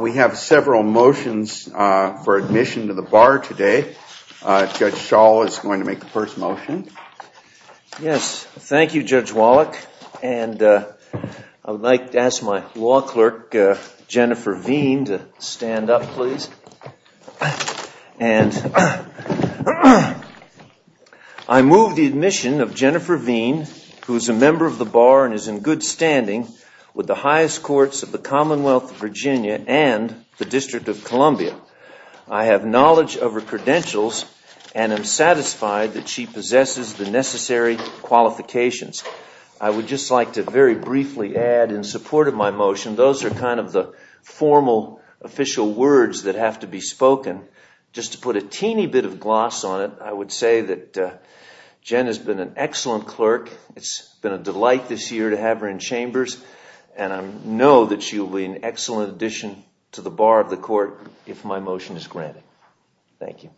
We have several motions for admission to the Bar today. Judge Schall is going to make the first motion. Yes. Thank you, Judge Wallach. And I would like to ask my law clerk, Jennifer Veen, to stand up, please. And I move the admission of Jennifer Veen, who is a member of the Bar and is in good standing with the highest courts of the Commonwealth of Virginia and the District of Columbia. I have knowledge of her credentials and am satisfied that she possesses the necessary qualifications. I would just like to very briefly add in support of my motion, those are kind of the formal official words that have to be spoken. Just to put a teeny bit of gloss on it, I would say that Jen has been an excellent clerk. It's been a delight this year to have her in Chambers, and I know that she will be an excellent addition to the Bar of the Court if my motion is granted. Thank you.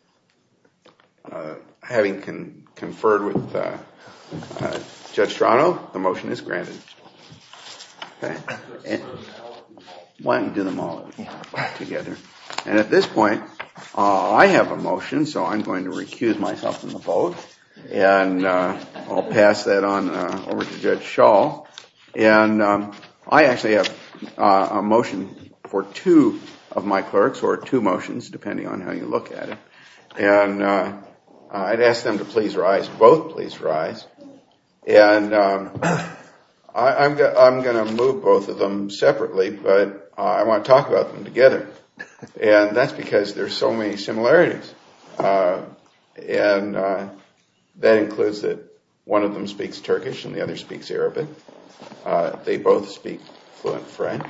Having conferred with Judge Strano, the motion is granted. Why don't you do them all together? And at this point, I have a motion, so I'm going to recuse myself from the vote and I'll pass that on over to Judge Schall. I actually have a motion for two of my clerks, or two motions depending on how you look at it. And I'd ask them to please rise, both please rise. And I'm going to move both of them separately, but I want to talk about them together. And that's because there's so many similarities. And that includes that one of them speaks Turkish and the other speaks Arabic. They both speak fluent French.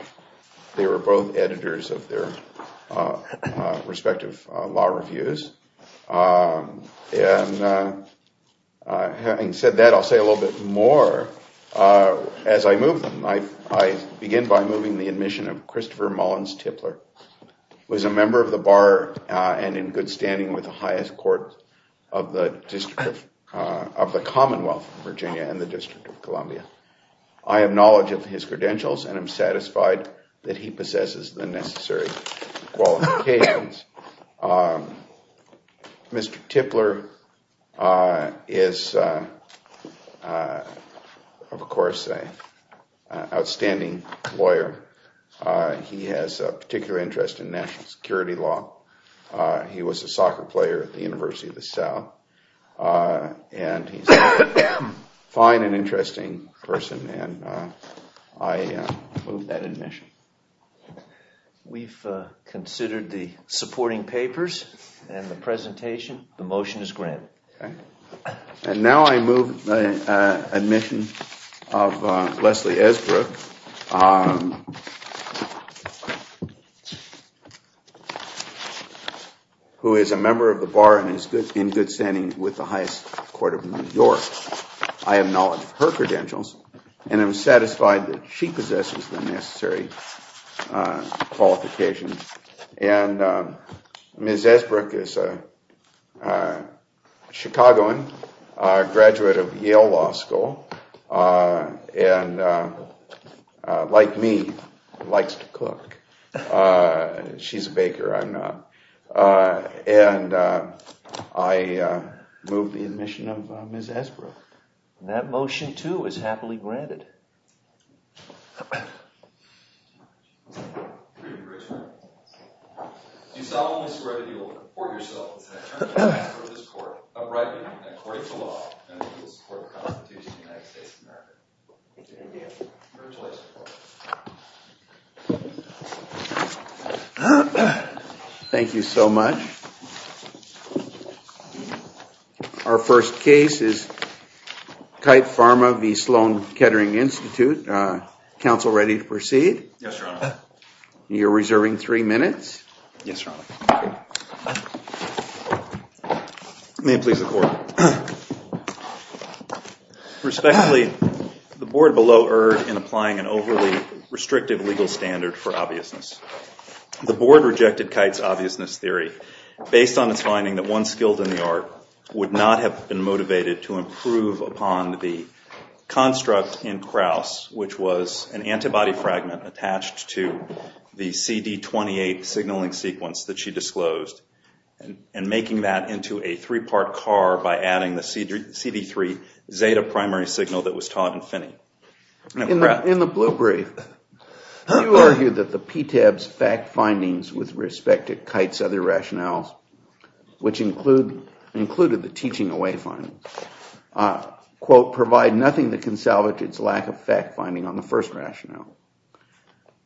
They were both editors of their respective law reviews. And having said that, I'll say a little bit more as I move them. I begin by moving the admission of Christopher Mullins Tipler, who is a member of the Bar and in good standing with the highest court of the Commonwealth of Virginia and the District of Columbia. I have knowledge of his credentials and am satisfied that he possesses the necessary qualifications. Mr. Tipler is, of course, an outstanding lawyer. He has a particular interest in national security law. He was a soccer player at the University of the South. And he's a fine and interesting person. And I move that admission. We've considered the supporting papers and the presentation. The motion is granted. And now I move the admission of Leslie Esbrook, who is a member of the Bar and is good in good standing with the highest court of New York. I have knowledge of her credentials and am satisfied that she possesses the necessary qualifications. And Ms. Esbrook is a Chicagoan, a graduate of Yale Law School, and like me, likes to cook. She's a baker. I'm not. And I move the admission of Ms. Esbrook. And that motion, too, is happily granted. Thank you so much. Our first case is Kite Pharma v. Sloan Kettering Institute. Counsel, ready to proceed? Yes, Your Honor. You're reserving three minutes. Yes, Your Honor. May it please the court. Respectfully, the board below erred in applying an overly restrictive legal standard for obviousness. The board rejected Kite's obviousness theory based on its finding that one skilled in the art would not have been motivated to improve upon the construct in Krauss, which was an antibody fragment attached to the CD28 signaling sequence that she disclosed, and making that into a three-part car by adding the CD3 Zeta primary signal that was taught in Finney. In the blue brief, you argued that the PTAB's fact findings with respect to Kite's other rationales, which included the teaching away findings, quote, provide nothing that can salvage its lack of fact finding on the first rationale.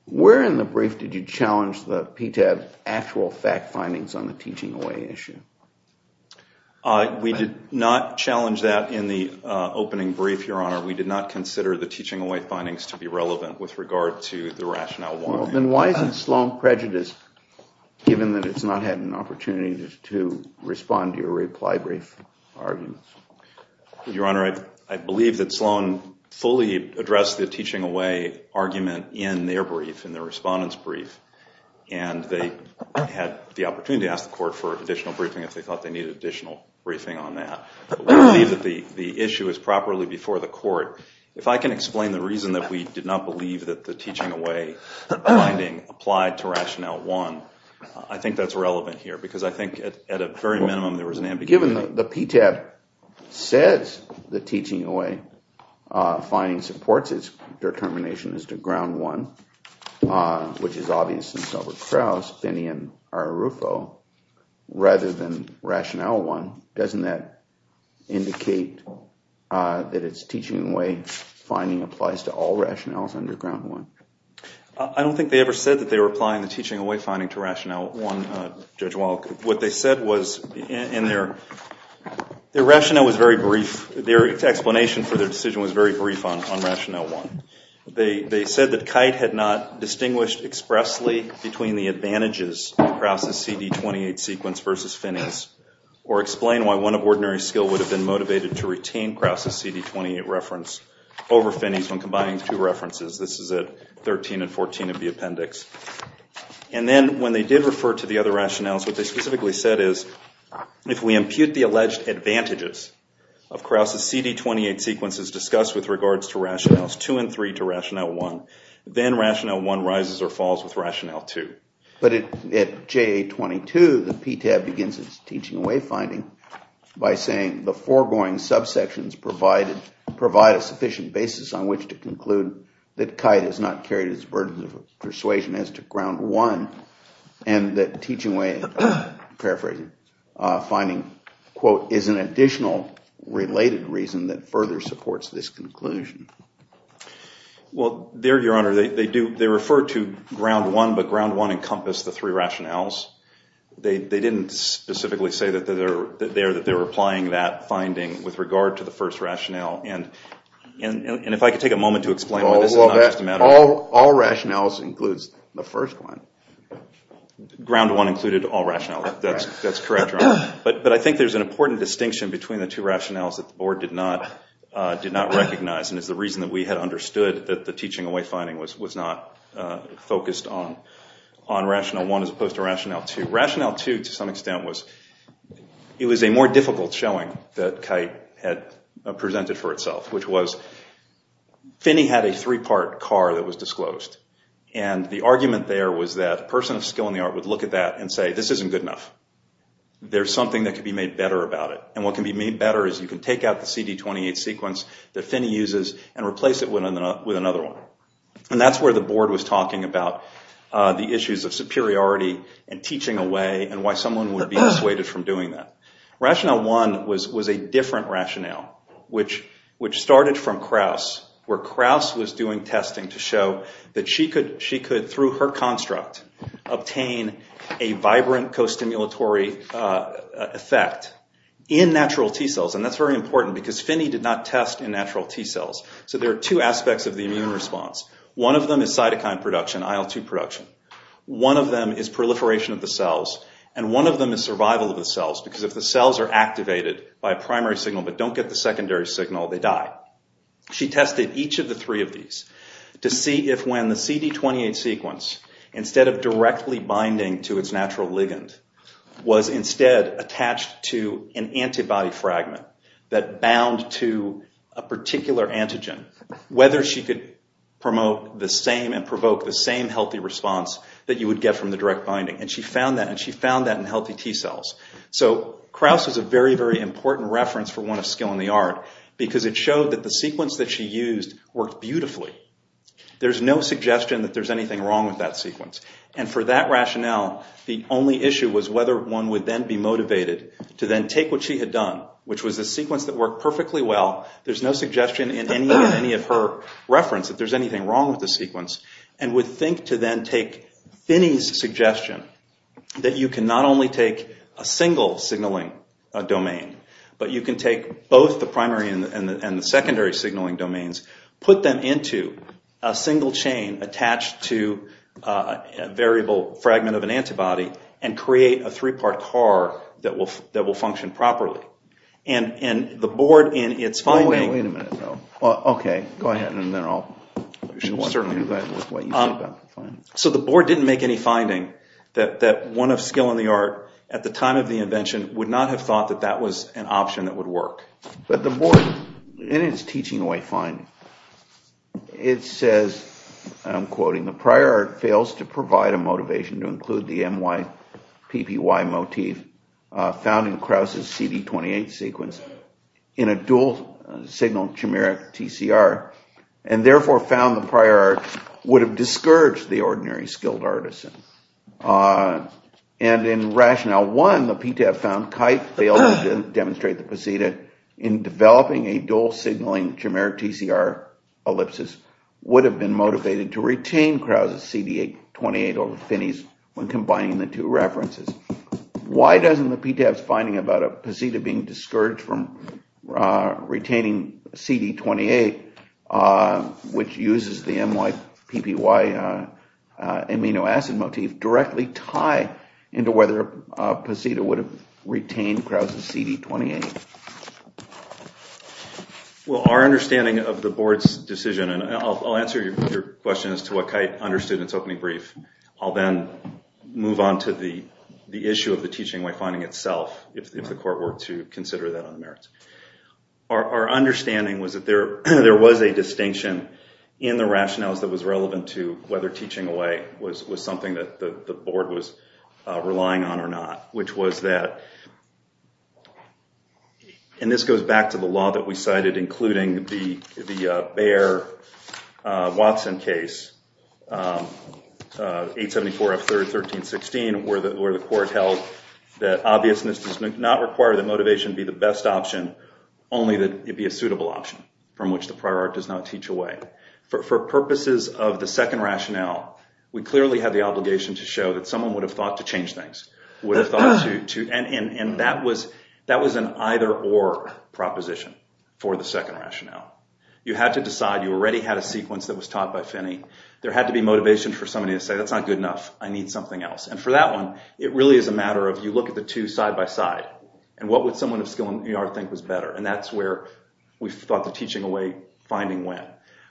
Where in the brief did you challenge the PTAB's actual fact findings on the teaching away issue? We did not challenge that in the opening brief, Your Honor. We did not consider the teaching away findings to be relevant with regard to the rationale one. Then why is it Sloan prejudiced, given that it's not had an opportunity to respond to your reply brief argument? Your Honor, I believe that Sloan fully addressed the teaching away argument in their brief, in their respondent's brief, and they had the opportunity to ask the court for additional briefing if they thought they needed additional briefing on that. We believe that the issue is properly before the court. If I can explain the reason that we did not believe that the teaching away finding applied to rationale one, I think that's relevant here, because I think at a very minimum there was an ambiguity. Given that the PTAB says the teaching away finding supports its determination as to ground one, which is obvious in Selbert Krauss, Finney, and Arrufo, rather than rationale one, doesn't that indicate that its teaching away finding applies to all rationales under ground one? I don't think they ever said that they were applying the teaching away finding to rationale one, Judge Wallack. What they said was in their rationale was very brief. Their explanation for their decision was very brief on rationale one. They said that Kite had not distinguished expressly between the advantages of Krauss' CD28 sequence versus Finney's or explain why one of ordinary skill would have been motivated to retain Krauss' CD28 reference over Finney's when combining two references. This is at 13 and 14 of the appendix. And then when they did refer to the other rationales, what they specifically said is if we impute the alleged advantages of Krauss' CD28 sequences discussed with regards to rationales two and three to rationale one, then rationale one rises or falls with rationale two. But at JA22, the PTAB begins its teaching away finding by saying the foregoing subsections provide a sufficient basis on which to conclude that Kite has not carried its burden of persuasion as to ground one and that teaching away, paraphrasing, finding, quote, is an additional related reason that further supports this conclusion. Well, there, Your Honor, they refer to ground one, but ground one encompassed the three rationales. They didn't specifically say that they're applying that finding with regard to the first rationale. And if I could take a moment to explain why this is not just a matter of… All rationales includes the first one. Ground one included all rationales. That's correct, Your Honor. But I think there's an important distinction between the two rationales that the board did not recognize and is the reason that we had understood that the teaching away finding was not focused on rationale one as opposed to rationale two. Rationale two, to some extent, was a more difficult showing that Kite had presented for itself, which was Finney had a three-part car that was disclosed. And the argument there was that a person of skill in the art would look at that and say this isn't good enough. There's something that could be made better about it. And what can be made better is you can take out the CD28 sequence that Finney uses and replace it with another one. And that's where the board was talking about the issues of superiority and teaching away and why someone would be dissuaded from doing that. Rationale one was a different rationale, which started from Krauss, where Krauss was doing testing to show that she could, through her construct, obtain a vibrant costimulatory effect in natural T-cells. And that's very important because Finney did not test in natural T-cells. So there are two aspects of the immune response. One of them is cytokine production, IL-2 production. One of them is proliferation of the cells, and one of them is survival of the cells, because if the cells are activated by a primary signal but don't get the secondary signal, they die. She tested each of the three of these to see if when the CD28 sequence, instead of directly binding to its natural ligand, was instead attached to an antibody fragment that bound to a particular antigen, whether she could promote the same and provoke the same healthy response that you would get from the direct binding. And she found that, and she found that in healthy T-cells. So Krauss is a very, very important reference for one of skill in the art, because it showed that the sequence that she used worked beautifully. There's no suggestion that there's anything wrong with that sequence. And for that rationale, the only issue was whether one would then be motivated to then take what she had done, which was a sequence that worked perfectly well, there's no suggestion in any of her reference that there's anything wrong with the sequence, and would think to then take Finney's suggestion that you can not only take a single signaling domain, but you can take both the primary and the secondary signaling domains, put them into a single chain attached to a variable fragment of an antibody, and create a three-part car that will function properly. And the board in its finding... So the board didn't make any finding that one of skill in the art, at the time of the invention, would not have thought that that was an option that would work. But the board, in its teaching-away finding, it says, I'm quoting, the prior art fails to provide a motivation to include the MYPPY motif found in Krauss' CD28 sequence in a dual-signal chimeric TCR, and therefore found the prior art would have discouraged the ordinary skilled artisan. And in rationale one, the PTAF found Kite failed to demonstrate the Posita in developing a dual-signaling chimeric TCR ellipsis would have been motivated to retain Krauss' CD28 over Finney's when combining the two references. Why doesn't the PTAF's finding about a Posita being discouraged from retaining CD28 which uses the MYPPY amino acid motif, directly tie into whether Posita would have retained Krauss' CD28? Well, our understanding of the board's decision, and I'll answer your question as to what Kite understood in its opening brief. I'll then move on to the issue of the teaching-away finding itself if the court were to consider that on the merits. Our understanding was that there was a distinction in the rationales that was relevant to whether teaching-away was something that the board was relying on or not, which was that, and this goes back to the law that we cited, including the Bayer-Watson case, 874 F. 3rd, 1316, where the court held that obviousness does not require that motivation be the best option, only that it be a suitable option from which the prior art does not teach away. For purposes of the second rationale, we clearly had the obligation to show that someone would have thought to change things. And that was an either-or proposition for the second rationale. You had to decide. You already had a sequence that was taught by Finney. There had to be motivation for somebody to say, that's not good enough, I need something else. And for that one, it really is a matter of you look at the two side-by-side and what would someone of skill in the art think was better. And that's where we thought the teaching-away finding went.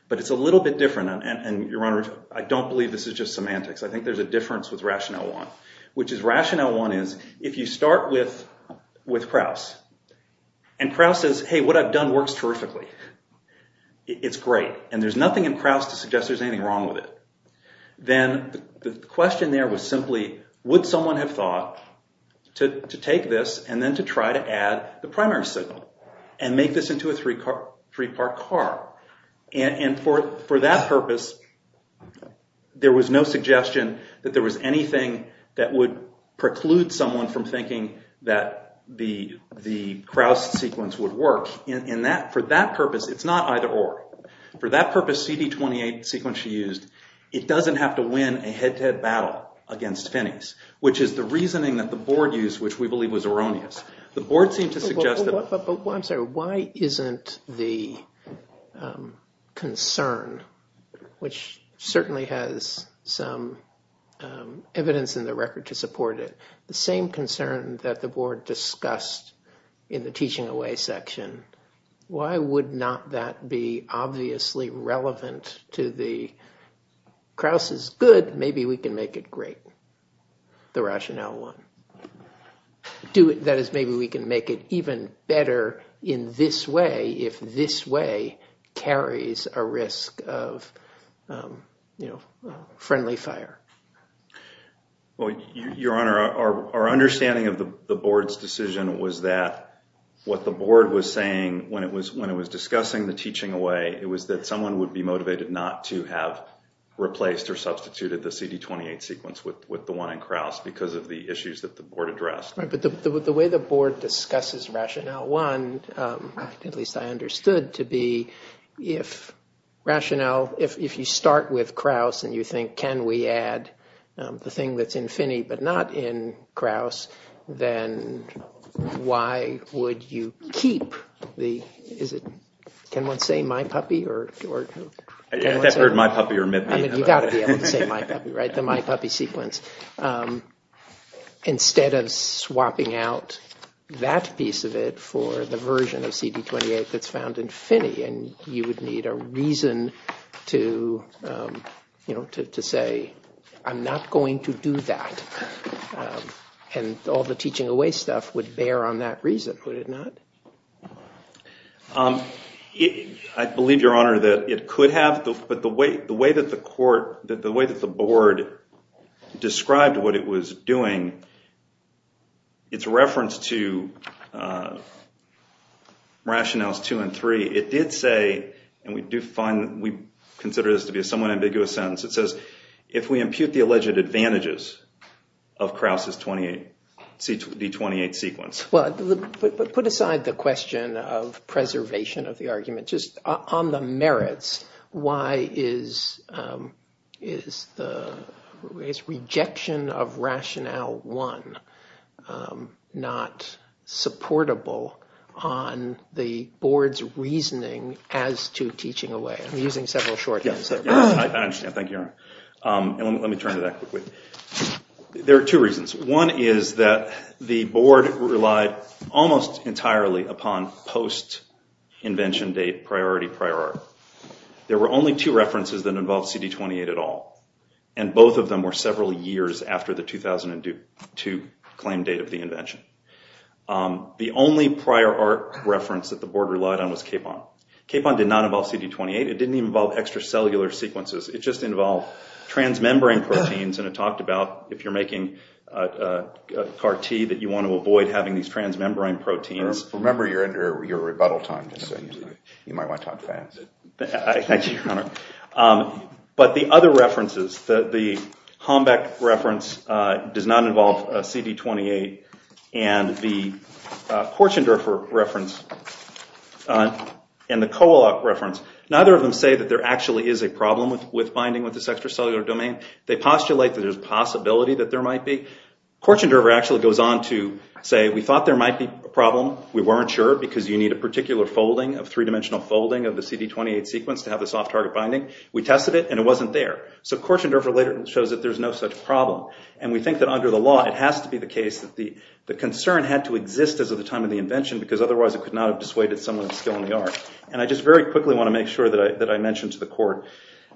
But it's a little bit different, and Your Honor, I don't believe this is just semantics. I think there's a difference with rationale one, which is rationale one is, if you start with Krauss, and Krauss says, hey, what I've done works terrifically, it's great, and there's nothing in Krauss to suggest there's anything wrong with it, then the question there was simply, would someone have thought to take this and then to try to add the primary signal and make this into a three-part car. And for that purpose, there was no suggestion that there was anything that would preclude someone from thinking that the Krauss sequence would work. For that purpose, it's not either-or. For that purpose, CD28 sequence she used, it doesn't have to win a head-to-head battle against Finney's, which is the reasoning that the board used, which we believe was erroneous. The board seemed to suggest that- I'm sorry, why isn't the concern, which certainly has some evidence in the record to support it, the same concern that the board discussed in the teaching-away section, why would not that be obviously relevant to the Krauss is good, but maybe we can make it great, the rationale one. That is, maybe we can make it even better in this way if this way carries a risk of friendly fire. Your Honor, our understanding of the board's decision was that what the board was saying when it was discussing the teaching-away, it was that someone would be motivated not to have replaced or substituted the CD28 sequence with the one in Krauss because of the issues that the board addressed. Right, but the way the board discusses rationale one, at least I understood to be if rationale, if you start with Krauss and you think, can we add the thing that's in Finney but not in Krauss, then why would you keep the, is it, can one say My Puppy? I've never heard My Puppy or Mippy. I mean, you've got to be able to say My Puppy, right? The My Puppy sequence. Instead of swapping out that piece of it for the version of CD28 that's found in Finney and you would need a reason to say, I'm not going to do that, and all the teaching-away stuff would bear on that reason, would it not? I believe, Your Honor, that it could have, but the way that the court, the way that the board described what it was doing, its reference to rationales two and three, it did say, and we do find, we consider this to be a somewhat ambiguous sentence. It says, if we impute the alleged advantages of Krauss's CD28 sequence. Well, put aside the question of preservation of the argument. Just on the merits, why is the rejection of rationale one not supportable on the board's reasoning as to teaching away? I'm using several short answers. I understand. Thank you, Your Honor. Let me turn to that quickly. There are two reasons. One is that the board relied almost entirely upon post-invention date priority prior art. There were only two references that involved CD28 at all, and both of them were several years after the 2002 claim date of the invention. The only prior art reference that the board relied on was Capon. Capon did not involve CD28. It didn't even involve extracellular sequences. It just involved transmembrane proteins, and it talked about if you're making a carte that you want to avoid having these transmembrane proteins. Remember, you're under your rebuttal time. You might want to talk fast. Thank you, Your Honor. But the other references, the Hombeck reference does not involve CD28, and the Korchendorfer reference and the Kowaluk reference, neither of them say that there actually is a problem with binding with this extracellular domain. They postulate that there's a possibility that there might be. Korchendorfer actually goes on to say, we thought there might be a problem. We weren't sure because you need a particular folding, a three-dimensional folding of the CD28 sequence to have this off-target binding. We tested it, and it wasn't there. So Korchendorfer later shows that there's no such problem, and we think that under the law it has to be the case that the concern had to exist as of the time of the invention because otherwise it could not have dissuaded someone of skill in the art. And I just very quickly want to make sure that I mention to the Court,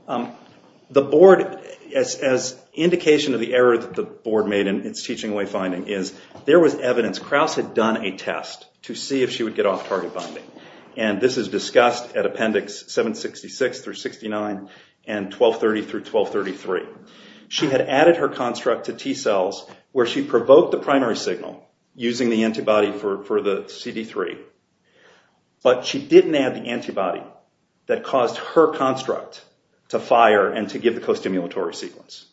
the Board, as indication of the error that the Board made in its teaching wayfinding, is there was evidence. Krauss had done a test to see if she would get off-target binding, and this is discussed at Appendix 766 through 69 and 1230 through 1233. She had added her construct to T cells where she provoked the primary signal using the antibody for the CD3, but she didn't add the antibody that caused her construct to fire and to give the costimulatory sequence.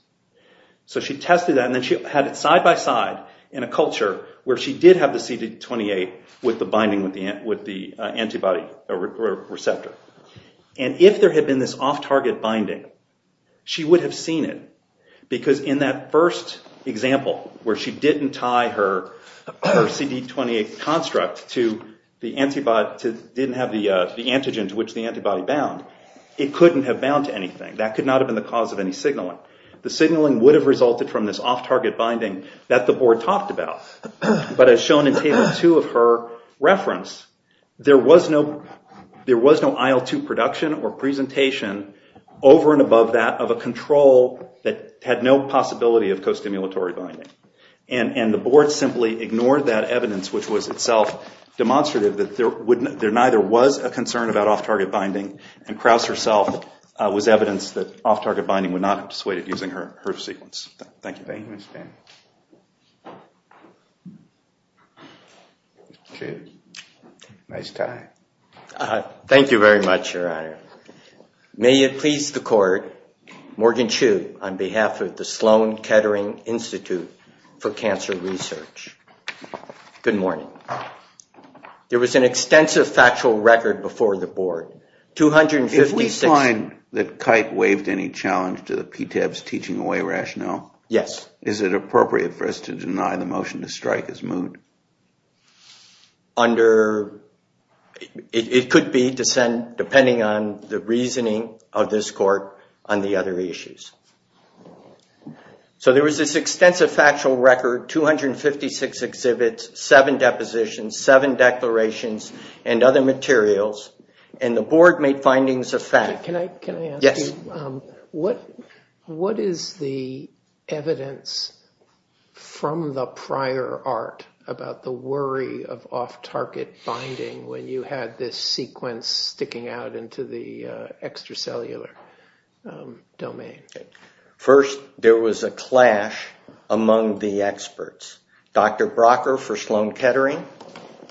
So she tested that, and then she had it side-by-side in a culture where she did have the CD28 with the binding with the antibody receptor. And if there had been this off-target binding, she would have seen it. Because in that first example where she didn't tie her CD28 construct to the antigen to which the antibody bound, it couldn't have bound to anything. That could not have been the cause of any signaling. The signaling would have resulted from this off-target binding that the Board talked about. But as shown in Table 2 of her reference, there was no IL-2 production or presentation over and above that of a control that had no possibility of costimulatory binding. And the Board simply ignored that evidence, which was itself demonstrative that there neither was a concern about off-target binding, and Krauss herself was evidence that off-target binding would not have dissuaded using her sequence. Thank you. Thank you, Mr. Dan. Nice tie. Thank you very much, Your Honor. May it please the Court, Morgan Chu on behalf of the Sloan Kettering Institute for Cancer Research. Good morning. There was an extensive factual record before the Board. If we find that Kite waived any challenge to the PTEB's teaching away rationale, is it appropriate for us to deny the motion to strike as moved? It could be, depending on the reasoning of this Court on the other issues. So there was this extensive factual record, 256 exhibits, seven depositions, seven declarations, and other materials, and the Board made findings of fact. Can I ask you, what is the evidence from the prior art about the worry of off-target binding when you had this sequence sticking out into the extracellular domain? First, there was a clash among the experts, Dr. Brocker for Sloan Kettering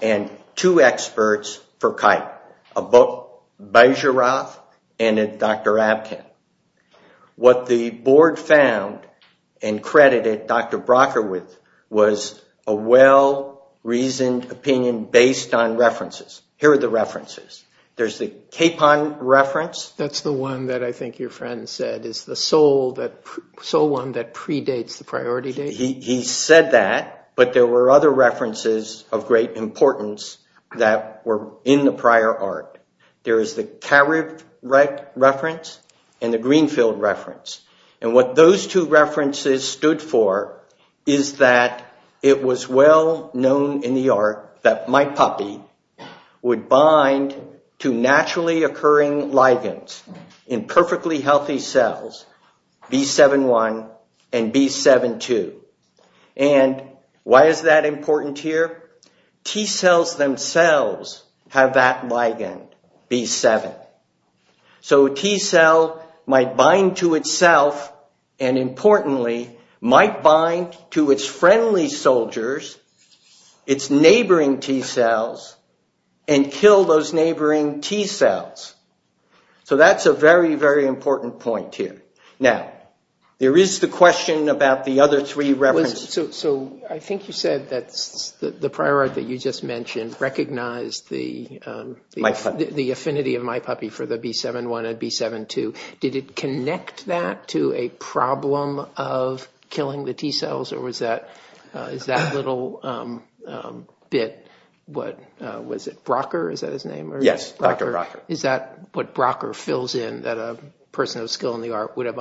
and two experts for Kite, both Bajorath and Dr. Abkin. What the Board found and credited Dr. Brocker with was a well-reasoned opinion based on references. Here are the references. There's the Capon reference. That's the one that I think your friend said is the sole one that predates the priority data. He said that, but there were other references of great importance that were in the prior art. There is the Kariv reference and the Greenfield reference. And what those two references stood for is that it was well-known in the art that my puppy would bind to naturally occurring ligands in perfectly healthy cells, B7-1 and B7-2. And why is that important here? T-cells themselves have that ligand, B7. So a T-cell might bind to itself and, importantly, might bind to its friendly soldiers, its neighboring T-cells, and kill those neighboring T-cells. So that's a very, very important point here. Now, there is the question about the other three references. So I think you said that the prior art that you just mentioned recognized the affinity of my puppy for the B7-1 and B7-2. Did it connect that to a problem of killing the T-cells, or is that little bit, what, was it Brocker? Is that his name? Yes, Dr. Brocker. Is that what Brocker fills in that a person of skill in the art would have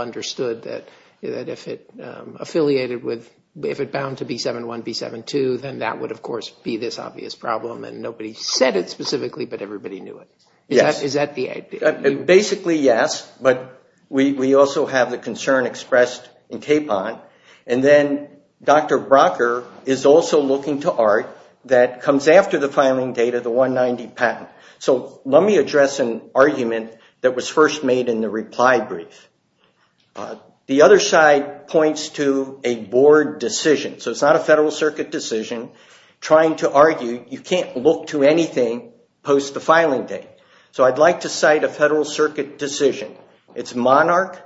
if it bound to B7-1, B7-2, then that would, of course, be this obvious problem and nobody said it specifically, but everybody knew it? Yes. Is that the idea? Basically, yes, but we also have the concern expressed in KPON. And then Dr. Brocker is also looking to art that comes after the filing data, the 190 patent. So let me address an argument that was first made in the reply brief. The other side points to a board decision. So it's not a Federal Circuit decision trying to argue you can't look to anything post the filing date. So I'd like to cite a Federal Circuit decision. It's Monarch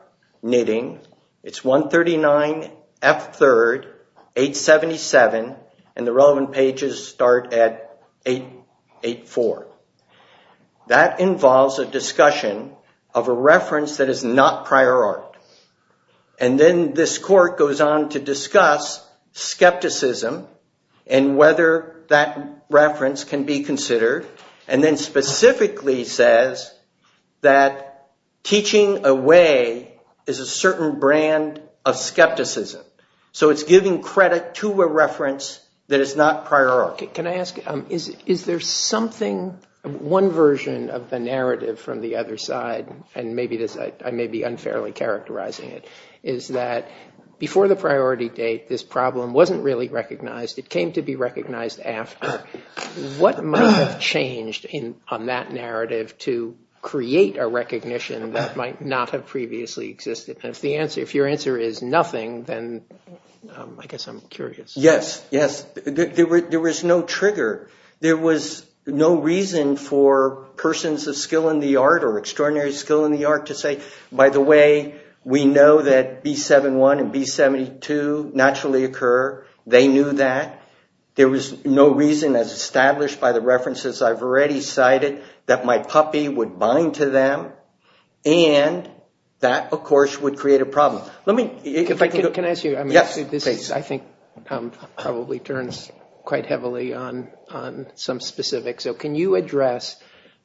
Knitting. It's 139F3, 877, and the relevant pages start at 884. That involves a discussion of a reference that is not prior art. And then this court goes on to discuss skepticism and whether that reference can be considered, and then specifically says that teaching away is a certain brand of skepticism. So it's giving credit to a reference that is not prior art. Can I ask, is there something, one version of the narrative from the other side, and I may be unfairly characterizing it, is that before the priority date, this problem wasn't really recognized. It came to be recognized after. What might have changed on that narrative to create a recognition that might not have previously existed? And if your answer is nothing, then I guess I'm curious. Yes, yes. There was no trigger. There was no reason for persons of skill in the art or extraordinary skill in the art to say, by the way, we know that B71 and B72 naturally occur. They knew that. There was no reason, as established by the references I've already cited, that my puppy would bind to them. And that, of course, would create a problem. Can I ask you, I think this probably turns quite heavily on some specifics. So can you address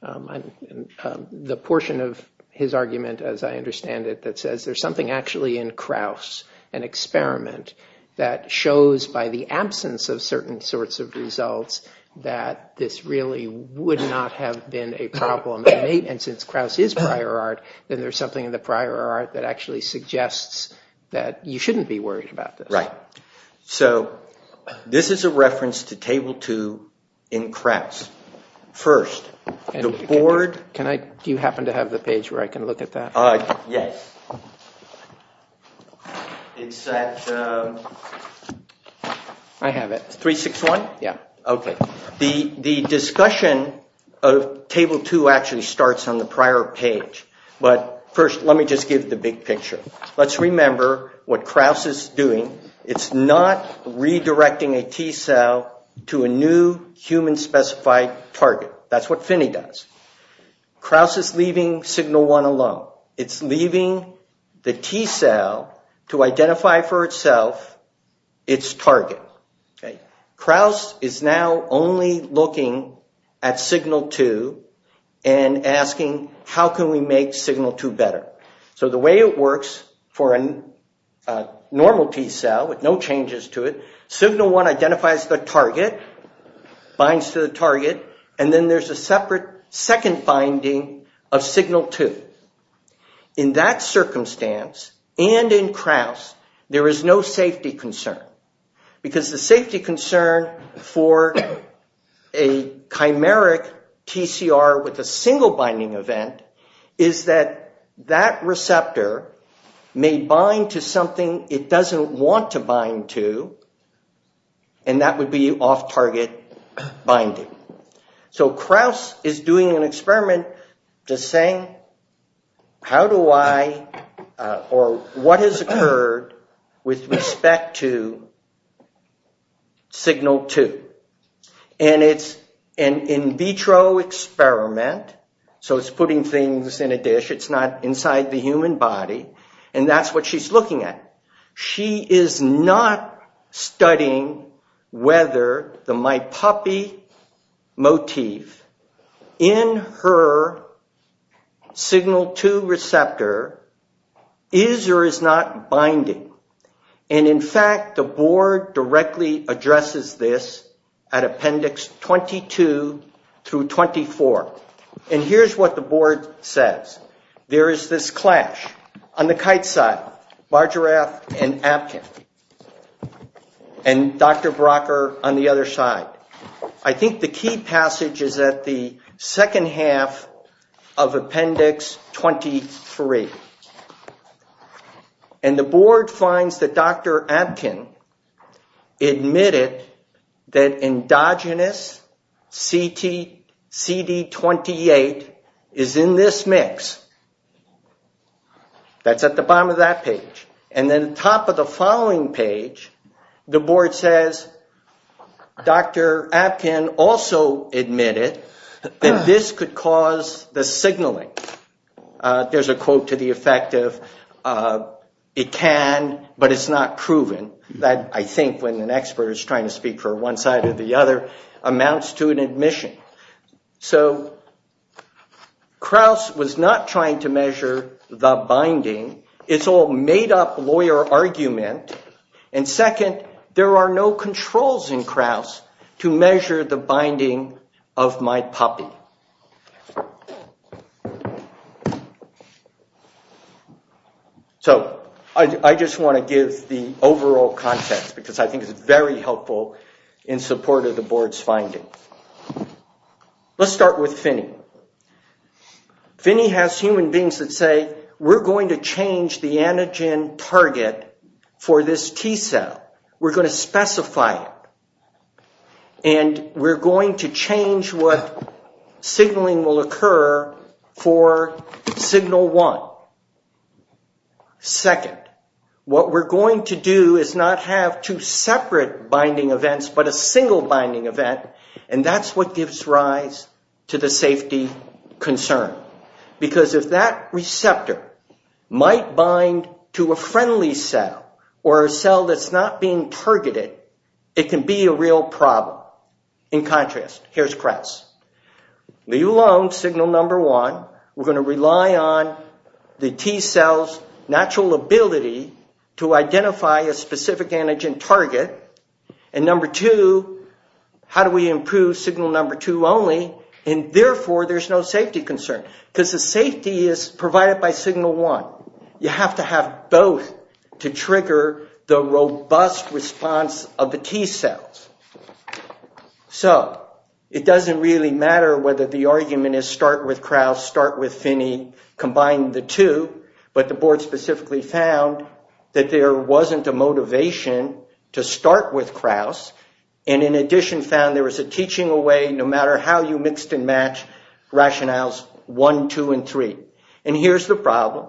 the portion of his argument, as I understand it, that says there's something actually in Krauss, an experiment that shows by the absence of certain sorts of results, that this really would not have been a problem. And since Krauss is prior art, then there's something in the prior art that actually suggests that you shouldn't be worried about this. Right. So this is a reference to Table 2 in Krauss. First, the board. Do you happen to have the page where I can look at that? Yes. I have it. 361? Yeah. Okay. The discussion of Table 2 actually starts on the prior page. But first, let me just give the big picture. Let's remember what Krauss is doing. It's not redirecting a T cell to a new human-specified target. That's what Finney does. Krauss is leaving Signal 1 alone. It's leaving the T cell to identify for itself its target. Krauss is now only looking at Signal 2 and asking, how can we make Signal 2 better? So the way it works for a normal T cell with no changes to it, Signal 1 identifies the target, binds to the target, and then there's a separate second binding of Signal 2. In that circumstance, and in Krauss, there is no safety concern. Because the safety concern for a chimeric TCR with a single binding event is that that receptor may bind to something it doesn't want to bind to, and that would be off-target binding. So Krauss is doing an experiment just saying, how do I, or what has occurred with respect to Signal 2? And it's an in vitro experiment. So it's putting things in a dish. It's not inside the human body. And that's what she's looking at. She is not studying whether the My Puppy motif in her Signal 2 receptor is or is not binding. And in fact, the board directly addresses this at Appendix 22 through 24. And here's what the board says. There is this clash on the kite side, Bargerath and Apkin, and Dr. Brocker on the other side. I think the key passage is at the second half of Appendix 23. And the board finds that Dr. Apkin admitted that endogenous CD28 is in this mix. That's at the bottom of that page. And then at the top of the following page, the board says, Dr. Apkin also admitted that this could cause the signaling. There's a quote to the effect of, it can, but it's not proven. That, I think, when an expert is trying to speak for one side or the other, amounts to an admission. So Krauss was not trying to measure the binding. It's all made-up lawyer argument. And second, there are no controls in Krauss to measure the binding of My Puppy. So I just want to give the overall context, because I think it's very helpful in support of the board's findings. Let's start with Phinney. Phinney has human beings that say, we're going to change the antigen target for this T cell. We're going to specify it. And we're going to change what signaling will occur for signal one. Second, what we're going to do is not have two separate binding events, but a single binding event. And that's what gives rise to the safety concern. Because if that receptor might bind to a friendly cell, or a cell that's not being targeted, it can be a real problem. In contrast, here's Krauss. Leave alone signal number one. We're going to rely on the T cell's natural ability to identify a specific antigen target. And number two, how do we improve signal number two only? And therefore, there's no safety concern. Because the safety is provided by signal one. You have to have both to trigger the robust response of the T cells. So, it doesn't really matter whether the argument is start with Krauss, start with Phinney, combine the two. But the board specifically found that there wasn't a motivation to start with Krauss. And in addition, found there was a teaching away, no matter how you mixed and matched rationales one, two, and three. And here's the problem.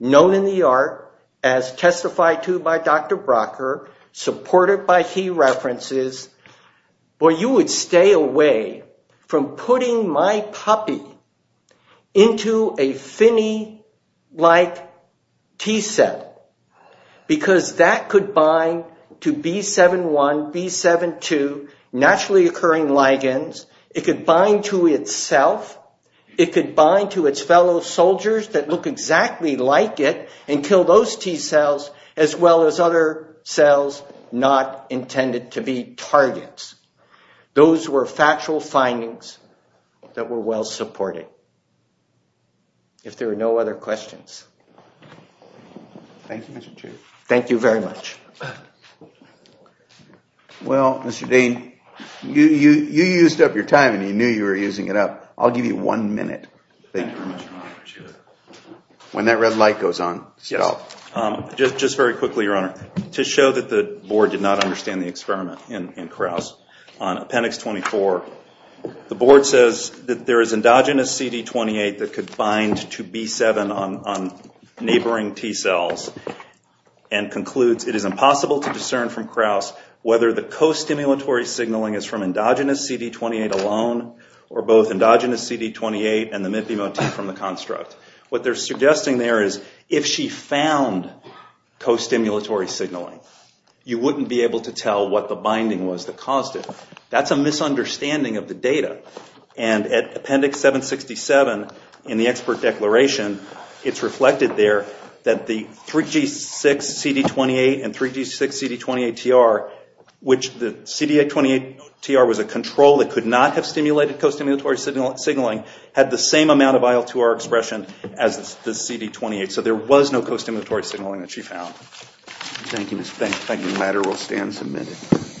Known in the art, as testified to by Dr. Brocker, supported by key references, where you would stay away from putting my puppy into a Phinney-like T cell. Because that could bind to B7-1, B7-2, naturally occurring ligands. It could bind to itself. It could bind to its fellow soldiers that look exactly like it until those T cells as well as other cells not intended to be targets. Those were factual findings that were well supported. If there are no other questions. Thank you, Mr. Chief. Thank you very much. Well, Mr. Dean, you used up your time and you knew you were using it up. I'll give you one minute. When that red light goes on, stop. Just very quickly, Your Honor. To show that the board did not understand the experiment in Krauss, on appendix 24, the board says that there is endogenous CD28 that could bind to B7 on neighboring T cells. And concludes it is impossible to discern from Krauss whether the costimulatory signaling is from endogenous CD28 alone or both endogenous CD28 and the MIPI motif from the construct. What they're suggesting there is if she found costimulatory signaling, you wouldn't be able to tell what the binding was that caused it. That's a misunderstanding of the data. And at appendix 767 in the expert declaration, it's reflected there that the 3G6 CD28 and 3G6 CD28-TR, which the CD28-TR was a control that could not have stimulated costimulatory signaling, had the same amount of IL-2R expression as the CD28. So there was no costimulatory signaling that she found. Thank you, Mr. Dean.